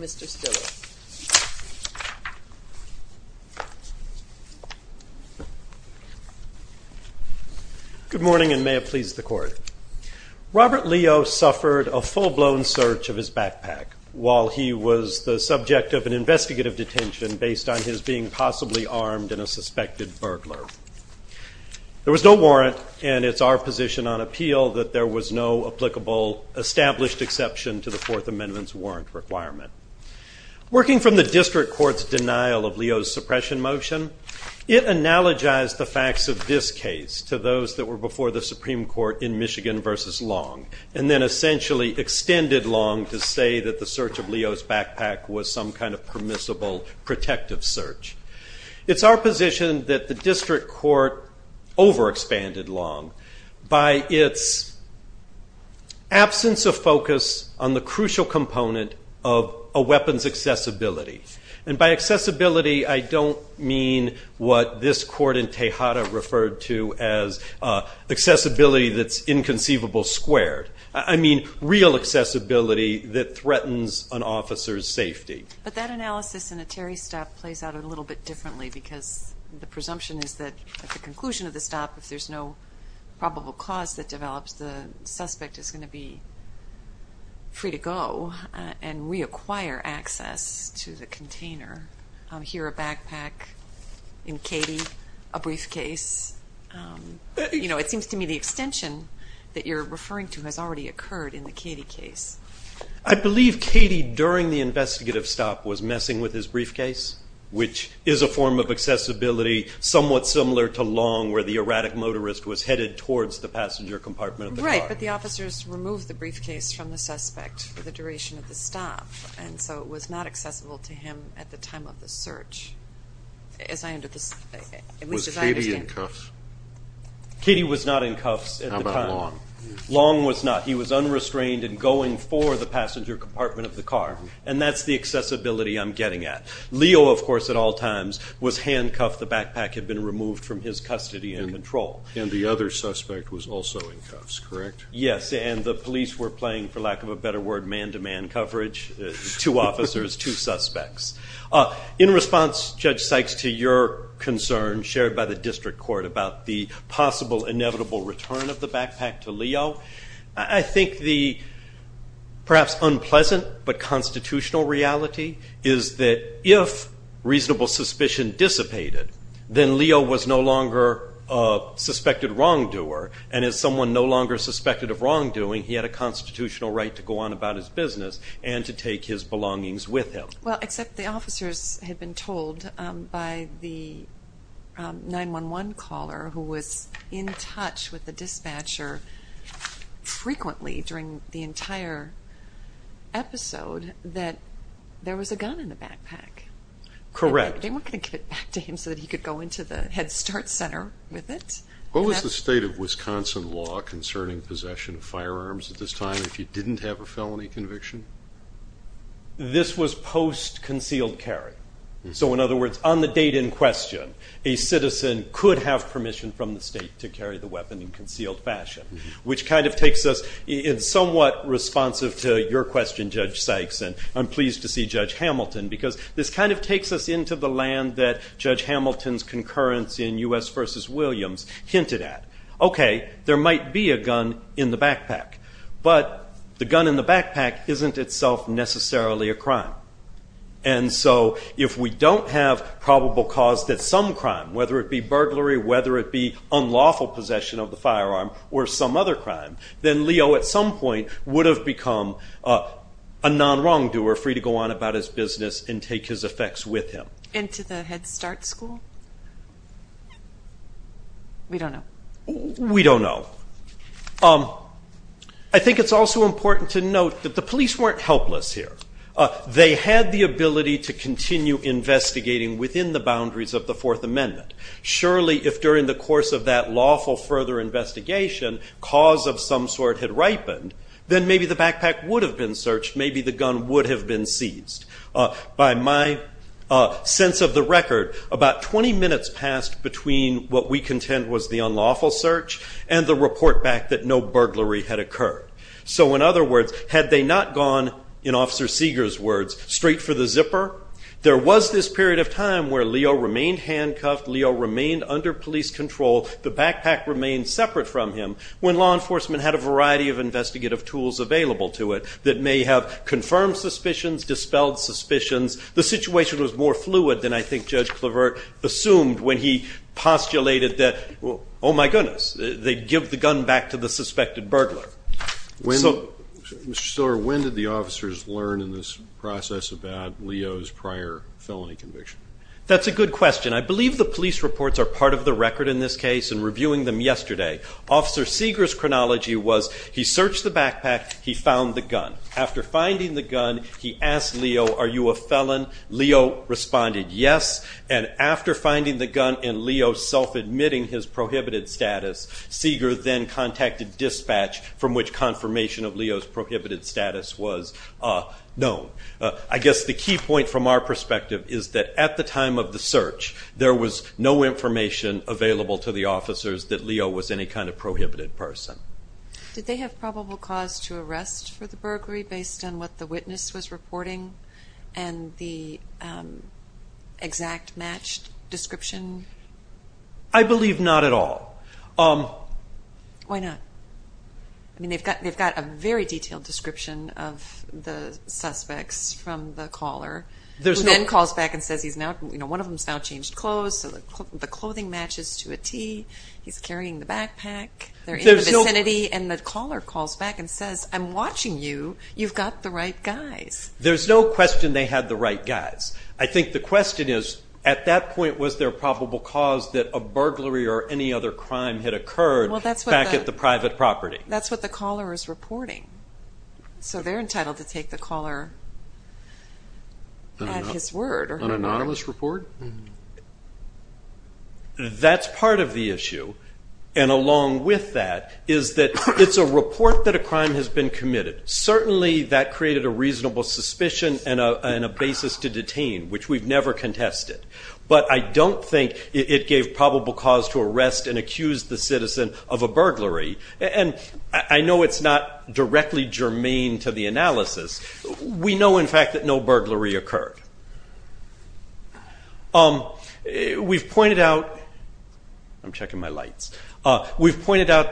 Mr. Stiller. Good morning, and may it please the Court. Robert Leo suffered a full-blown search of his backpack while he was the subject of an investigative detention based on his being possibly armed in a suspected burglar. There was no warrant, and it's our position on appeal that there was no applicable established exception to the Fourth Amendment's warrant requirement. Working from the District Court's denial of Leo's suppression motion, it analogized the facts of this case to those that were before the Supreme Court in Michigan v. Long, and then essentially extended Long to say that the search of Leo's backpack was some kind of permissible protective search. It's our position that the District Court overexpanded Long by its absence of focus on the crucial component of a weapon's accessibility. And by accessibility, I don't mean what this Court in Tejada referred to as accessibility that's inconceivable squared. I mean real accessibility that threatens an officer's safety. But that analysis in a Terry stop plays out a little bit differently because the presumption is that at the conclusion of the stop, if there's no probable cause that develops, the suspect is going to be free to go and reacquire access to the container. Here, a backpack in Katie, a briefcase. It seems to me the extension that you're referring to has already occurred in the Katie case. I believe Katie, during the investigative stop, was messing with his briefcase, which is a form of accessibility somewhat similar to Long, where the erratic motorist was headed towards the passenger compartment of the car. Right, but the officers removed the briefcase from the suspect for the duration of the stop, and so it was not accessible to him at the time of the search. Was Katie in cuffs? Katie was not in cuffs at the time. Long was not. He was unrestrained and going for the passenger compartment of the car, and that's the accessibility I'm getting at. Leo, of course, at all times, was handcuffed. The backpack had been removed from his custody and control. And the other suspect was also in cuffs, correct? Yes, and the police were playing, for lack of a better word, man-to-man coverage. Two officers, two suspects. In response, Judge Sykes, to your concern shared by the District Court about the possible inevitable return of the backpack to Leo, I think the perhaps unpleasant but constitutional reality is that if reasonable suspicion dissipated, then Leo was no longer a suspected wrongdoer, and as someone no longer suspected of wrongdoing, he had a constitutional right to go on about his business and to take his with the dispatcher frequently during the entire episode that there was a gun in the backpack. Correct. They weren't going to give it back to him so that he could go into the Head Start Center with it. What was the state of Wisconsin law concerning possession of firearms at this time if you didn't have a felony conviction? This was post-concealed carry. So in other words, on the date in question, a citizen could have permission from the state to carry the weapon in concealed fashion, which kind of takes us in somewhat responsive to your question, Judge Sykes, and I'm pleased to see Judge Hamilton, because this kind of takes us into the land that Judge Hamilton's concurrence in U.S. v. Williams hinted at. Okay, there might be a gun in the backpack, but the gun in the backpack isn't itself necessarily a crime. And so if we don't have probable cause that some crime, whether it be burglary, whether it be unlawful possession of the firearm, or some other crime, then Leo at some point would have become a non-wrongdoer, free to go on about his We don't know. We don't know. I think it's also important to note that the police weren't helpless here. They had the ability to continue investigating within the boundaries of the Fourth Amendment. Surely if during the course of that lawful further investigation, cause of some sort had ripened, then maybe the backpack would have been searched, maybe the gun would have been seized. By my sense of the record, about 20 minutes passed between what we contend was the unlawful search and the report back that no burglary had occurred. So in other words, had they not gone, in Officer Seeger's words, straight for the zipper, there was this period of time where Leo remained handcuffed, Leo remained under police control, the backpack remained separate from him, when law enforcement had a variety of investigative tools available to it that may have confirmed suspicions, dispelled suspicions. The situation was more fluid than I think Judge Clavert assumed when he postulated that, oh my goodness, they'd give the gun back to the suspected burglar. When did the officers learn in this process about Leo's prior felony conviction? That's a good question. I believe the police reports are part of the record in this case, and reviewing them yesterday, Officer Seeger's chronology was he searched the backpack, he found the gun. After finding the gun, he asked Leo, are you a felon? Leo responded yes, and after finding the gun and Leo self-admitting his prohibited status, Seeger then contacted dispatch, from which confirmation of Leo's prohibited status was known. I guess the key point from our perspective is that at the time of the search, there was no information available to the officers that Leo was any kind of prohibited person. Did they have probable cause to arrest for the burglary based on what the witness was reporting, and the exact matched description? I believe not at all. Why not? They've got a very detailed description of the suspects from the caller, who then calls back and says, one of them's now changed clothes, the clothing matches to a tee, he's carrying the backpack, they're in the vicinity, and the caller calls back and says, I'm watching you, you've got the right guys. There's no question they had the right guys. I think the question is, at that point, was there probable cause that a burglary or any other crime had occurred back at the private property? That's what the caller is reporting. So they're entitled to take the caller at his word. An anonymous report? That's part of the issue, and along with that is that it's a report that a crime has been committed. Certainly that created a reasonable suspicion and a basis to detain, which we've never contested. But I don't think it gave probable cause to arrest and accuse the citizen of a burglary, and I know it's not directly germane to the analysis. We know, in fact, that no burglary occurred. We've pointed out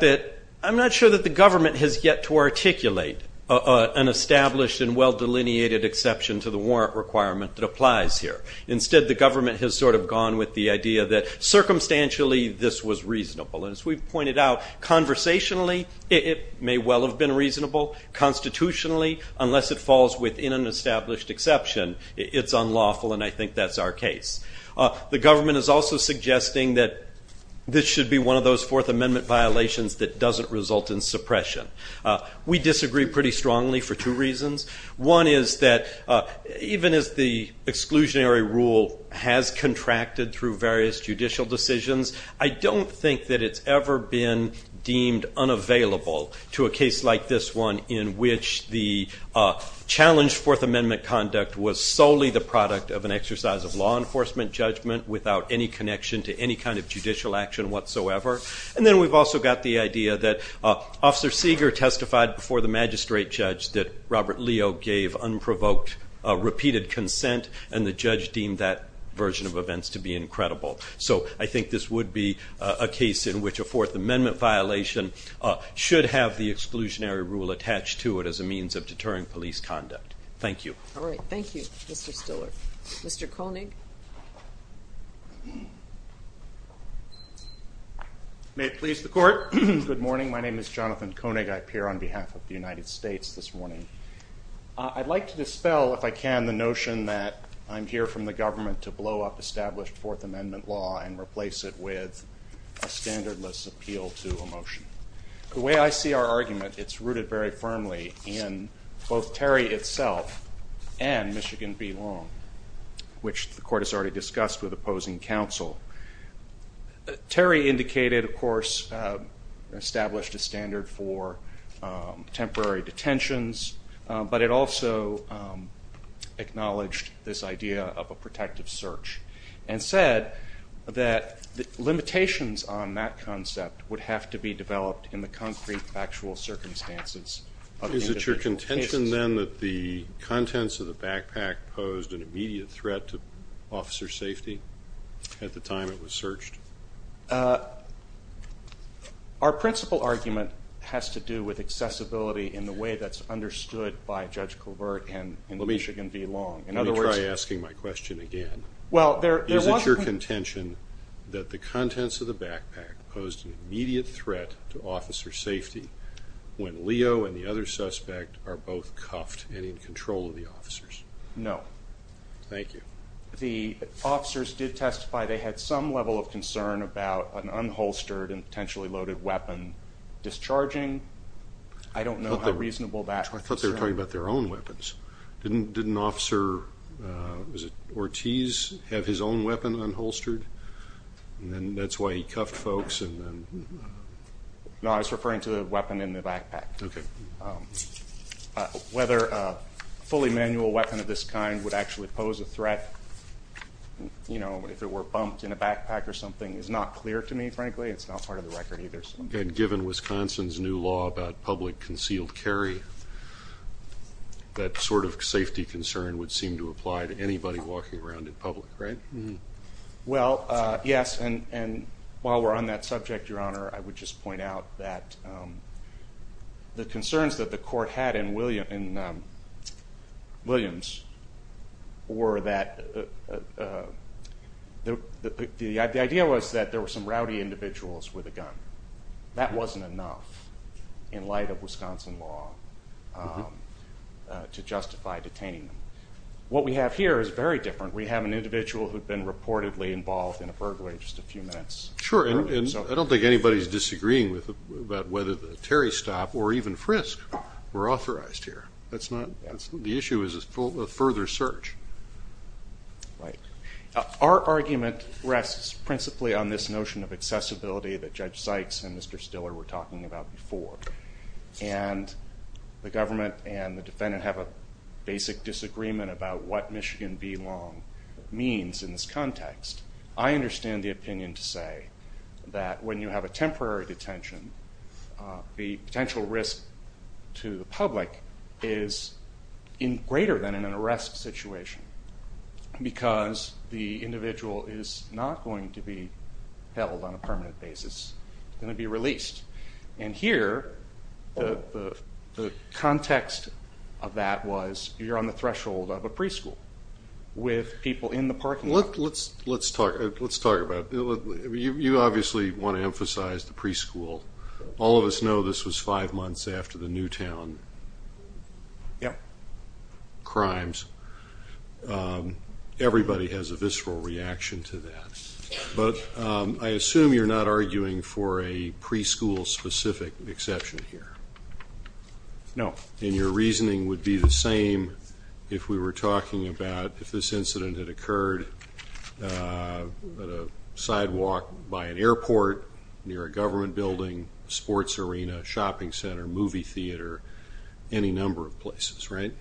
that I'm not sure that the government has yet to articulate an established and well-delineated exception to the warrant requirement that applies here. Instead, the government has sort of gone with the idea that, circumstantially, this was reasonable. As we've pointed out, conversationally, it may well have been reasonable. Constitutionally, unless it falls within an established exception, it's unlawful, and I think that's our case. The government is also suggesting that this should be one of those Fourth Amendment violations that doesn't result in suppression. We disagree pretty strongly for two reasons. One is that, even as the exclusionary rule has contracted through various judicial decisions, I don't think that it's ever been deemed unavailable to a case like this one, in which the challenged Fourth Amendment conduct was solely the product of an exercise of law enforcement judgment, without any connection to any kind of judicial action whatsoever. And then we've also got the idea that Officer Seeger testified before the magistrate judge that Robert Leo gave unprovoked, repeated consent, and the judge deemed that version of events to be incredible. So I think this would be a case in which a Fourth Amendment violation should have the exclusionary rule attached to it as a means of deterring police conduct. Thank you. All right, thank you, Mr. Stiller. Mr. Koenig. May it please the Court, good morning. My name is Jonathan Koenig. I appear on behalf of the United States this morning. I'd like to dispel, if I can, the notion that I'm here from the government to blow up established Fourth Amendment law The way I see our argument, it's rooted very firmly in both Terry itself and Michigan v. Long, which the Court has already discussed with opposing counsel. Terry indicated, of course, established a standard for temporary detentions, but it also acknowledged this idea of a protective search and said that limitations on that concept would have to be developed in the concrete, factual circumstances of individual cases. Is it your contention, then, that the contents of the backpack posed an immediate threat to officer safety at the time it was searched? Our principal argument has to do with accessibility in the way that's understood by Judge Colbert and Michigan v. Long. Let me try asking my question again. Is it your contention that the contents of the backpack posed an immediate threat to officer safety when Leo and the other suspect are both cuffed and in control of the officers? No. Thank you. The officers did testify they had some level of concern about an unholstered and potentially loaded weapon discharging. I don't know how reasonable that is. I thought they were talking about their own weapons. Didn't Officer Ortiz have his own weapon unholstered, and that's why he cuffed folks? No, I was referring to the weapon in the backpack. Okay. Whether a fully manual weapon of this kind would actually pose a threat, you know, if it were bumped in a backpack or something is not clear to me, frankly. It's not part of the record either. And given Wisconsin's new law about public concealed carry, that sort of safety concern would seem to apply to anybody walking around in public, right? Well, yes, and while we're on that subject, Your Honor, I would just point out that the concerns that the court had in Williams were that the idea was that there were some rowdy individuals with a gun. That wasn't enough in light of Wisconsin law to justify detaining them. What we have here is very different. We have an individual who had been reportedly involved in a burglary in just a few minutes. Sure, and I don't think anybody is disagreeing about whether the Terry stop or even frisk were authorized here. The issue is a further search. Right. Our argument rests principally on this notion of accessibility that Judge Sykes and Mr. Stiller were talking about before. And the government and the defendant have a basic disagreement about what Michigan B-Long means in this context. I understand the opinion to say that when you have a temporary detention, the potential risk to the public is greater than in an arrest situation because the individual is not going to be held on a permanent basis, going to be released. And here, the context of that was you're on the threshold of a preschool with people in the parking lot. Let's talk about it. You obviously want to emphasize the preschool. All of us know this was five months after the Newtown crimes. Everybody has a visceral reaction to that. But I assume you're not arguing for a preschool-specific exception here. No. And your reasoning would be the same if we were talking about if this incident had occurred at a sidewalk by an airport, near a government building, sports arena, shopping center, movie theater, any number of places, right?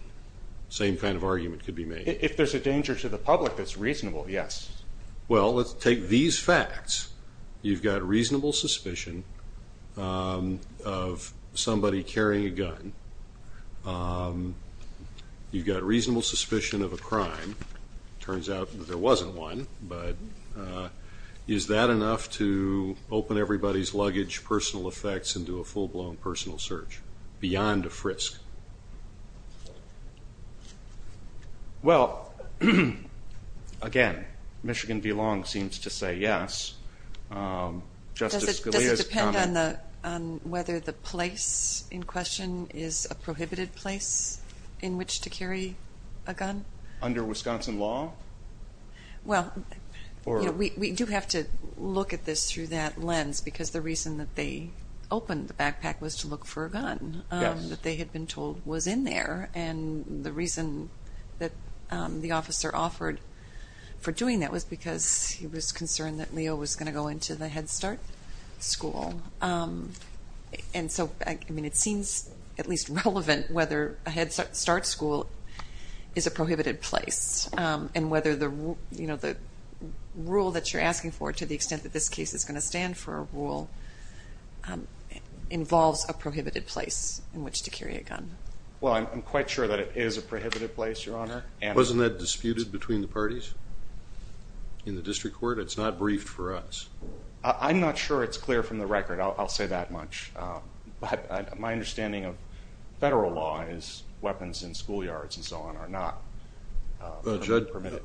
Same kind of argument could be made. If there's a danger to the public that's reasonable, yes. Well, let's take these facts. You've got reasonable suspicion of somebody carrying a gun. You've got reasonable suspicion of a crime. It turns out that there wasn't one. But is that enough to open everybody's luggage, personal effects, and do a full-blown personal search beyond a frisk? Well, again, Michigan v. Long seems to say yes. Does it depend on whether the place in question is a prohibited place in which to carry a gun? Under Wisconsin law? Well, we do have to look at this through that lens because the reason that they opened the backpack was to look for a gun. Yes. That they had been told was in there. And the reason that the officer offered for doing that was because he was concerned that Leo was going to go into the Head Start school. And so, I mean, it seems at least relevant whether a Head Start school is a prohibited place and whether the rule that you're asking for, to the extent that this case is going to stand for a rule, involves a prohibited place in which to carry a gun. Well, I'm quite sure that it is a prohibited place, Your Honor. Wasn't that disputed between the parties in the district court? It's not briefed for us. I'm not sure it's clear from the record. I'll say that much. My understanding of federal law is weapons in schoolyards and so on are not permitted.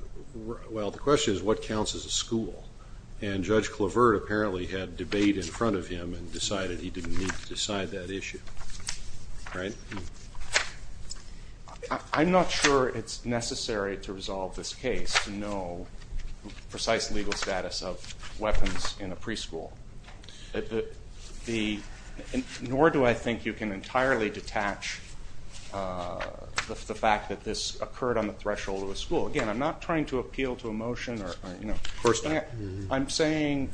Well, the question is what counts as a school. And Judge Clavert apparently had debate in front of him and decided he didn't need to decide that issue. Right? I'm not sure it's necessary to resolve this case to know precise legal status of weapons in a preschool. Nor do I think you can entirely detach the fact that this occurred on the threshold of a school. Again, I'm not trying to appeal to emotion. Of course not. I'm saying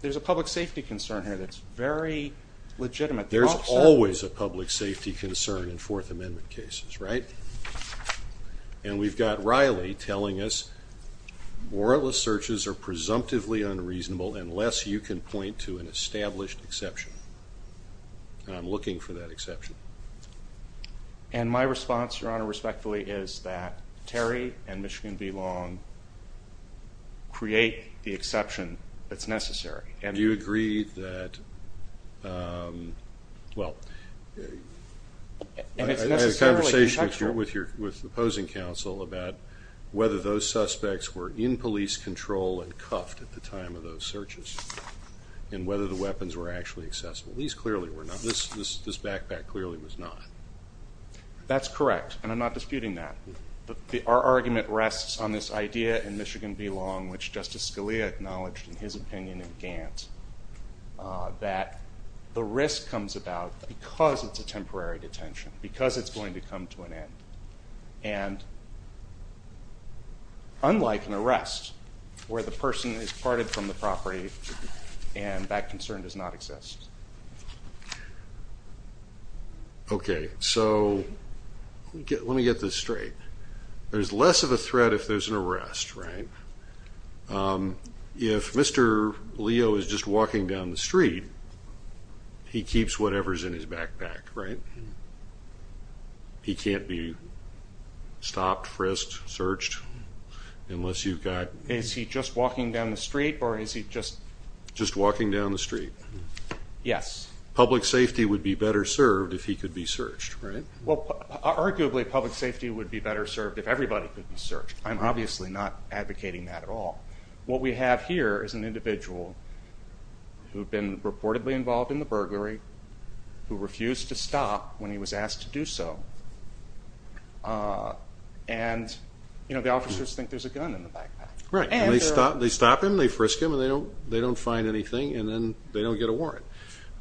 there's a public safety concern here that's very legitimate. There's always a public safety concern in Fourth Amendment cases, right? And we've got Riley telling us warrantless searches are presumptively unreasonable unless you can point to an established exception. And I'm looking for that exception. And my response, Your Honor, respectfully, is that Terry and Michigan v. Long create the exception that's necessary. Do you agree that, well, I had a conversation with your opposing counsel about whether those suspects were in police control and cuffed at the time of those searches and whether the weapons were actually accessible. These clearly were not. This backpack clearly was not. That's correct, and I'm not disputing that. Our argument rests on this idea in Michigan v. Long, which Justice Scalia acknowledged in his opinion in Gantt, that the risk comes about because it's a temporary detention, because it's going to come to an end. And unlike an arrest where the person is parted from the property and that concern does not exist. Okay, so let me get this straight. There's less of a threat if there's an arrest, right? If Mr. Leo is just walking down the street, he keeps whatever's in his backpack, right? He can't be stopped, frisked, searched unless you've got – Is he just walking down the street or is he just – Just walking down the street. Yes. Public safety would be better served if he could be searched, right? Well, arguably public safety would be better served if everybody could be searched. I'm obviously not advocating that at all. What we have here is an individual who had been reportedly involved in the burglary, who refused to stop when he was asked to do so, and the officers think there's a gun in the backpack. Right. And they stop him, they frisk him, and they don't find anything, and then they don't get a warrant.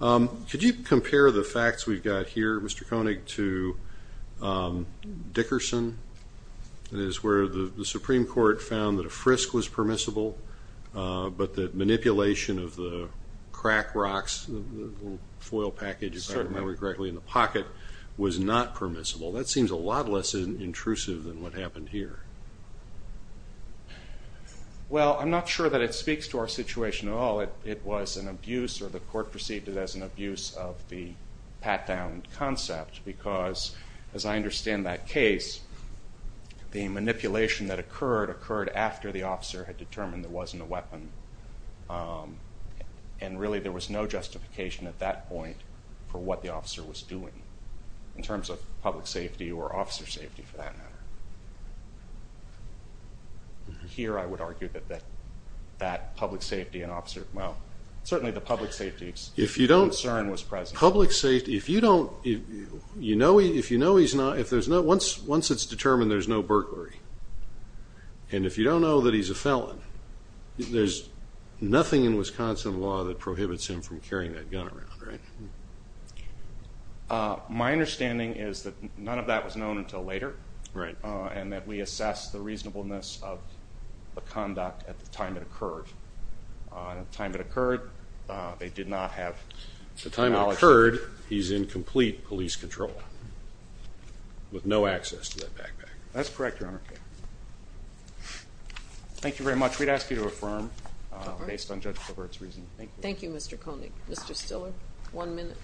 Could you compare the facts we've got here, Mr. Koenig, to Dickerson? It is where the Supreme Court found that a frisk was permissible, but that manipulation of the crack rocks, the little foil package, if I remember correctly, in the pocket was not permissible. That seems a lot less intrusive than what happened here. Well, I'm not sure that it speaks to our situation at all. It was an abuse, or the court perceived it as an abuse, of the pat-down concept because, as I understand that case, the manipulation that occurred occurred after the officer had determined there wasn't a weapon, and really there was no justification at that point for what the officer was doing in terms of public safety or officer safety, for that matter. Here I would argue that that public safety and officer, well, certainly the public safety concern was present. Public safety, if you know he's not, once it's determined there's no burglary, and if you don't know that he's a felon, there's nothing in Wisconsin law that prohibits him from carrying that gun around, right? My understanding is that none of that was known until later, and that we assess the reasonableness of the conduct at the time it occurred. At the time it occurred, they did not have knowledge. At the time it occurred, he's in complete police control with no access to that backpack. That's correct, Your Honor. Thank you very much. We'd ask you to affirm based on Judge Clovert's reasoning. Thank you, Mr. Koenig. Mr. Stiller, one minute.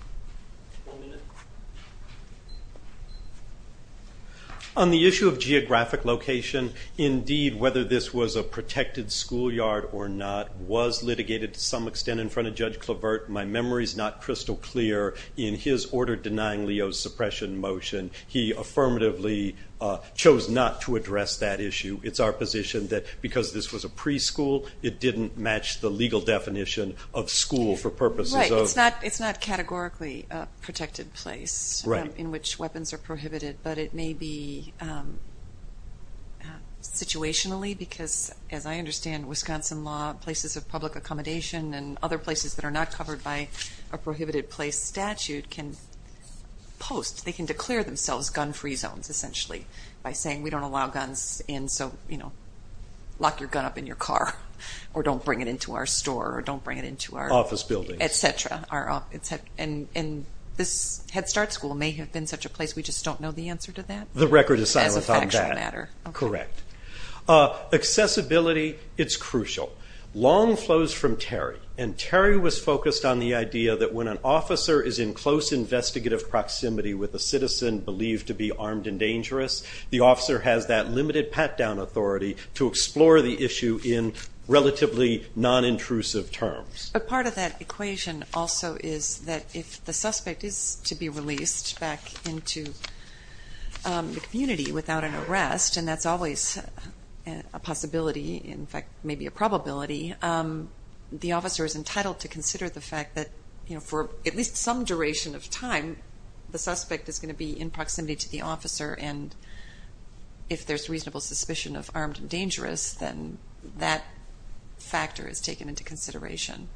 On the issue of geographic location, indeed, whether this was a protected schoolyard or not was litigated to some extent in front of Judge Clovert. My memory is not crystal clear. In his order denying Leo's suppression motion, he affirmatively chose not to address that issue. It's our position that because this was a preschool, it didn't match the legal definition of school for purposes of— Right. It's not categorically a protected place in which weapons are prohibited, but it may be situationally because, as I understand, Wisconsin law places of public accommodation and other places that are not covered by a prohibited place statute can post. They declare themselves gun-free zones, essentially, by saying we don't allow guns in, so lock your gun up in your car or don't bring it into our store or don't bring it into our— Office buildings. Et cetera. And this Head Start school may have been such a place, we just don't know the answer to that. The record is silent on that. As a factual matter. Correct. Accessibility, it's crucial. Long flows from Terry, and Terry was focused on the idea that when an officer is in close investigative proximity with a citizen believed to be armed and dangerous, the officer has that limited pat-down authority to explore the issue in relatively non-intrusive terms. But part of that equation also is that if the suspect is to be released back into the community without an arrest, and that's always a possibility, in fact, maybe a probability, the officer is entitled to consider the fact that for at least some duration of time the suspect is going to be in proximity to the officer, and if there's reasonable suspicion of armed and dangerous, then that factor is taken into consideration.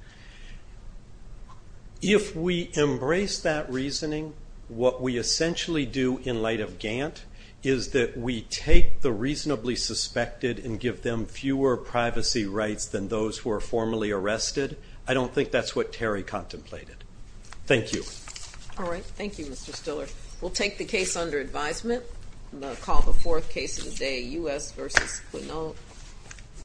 If we embrace that reasoning, what we essentially do in light of Gantt is that we take the reasonably suspected and give them fewer privacy rights than those who are formally arrested. I don't think that's what Terry contemplated. Thank you. All right. Thank you, Mr. Stiller. We'll take the case under advisement. I'm going to call the fourth case of the day, U.S. v. Quinault.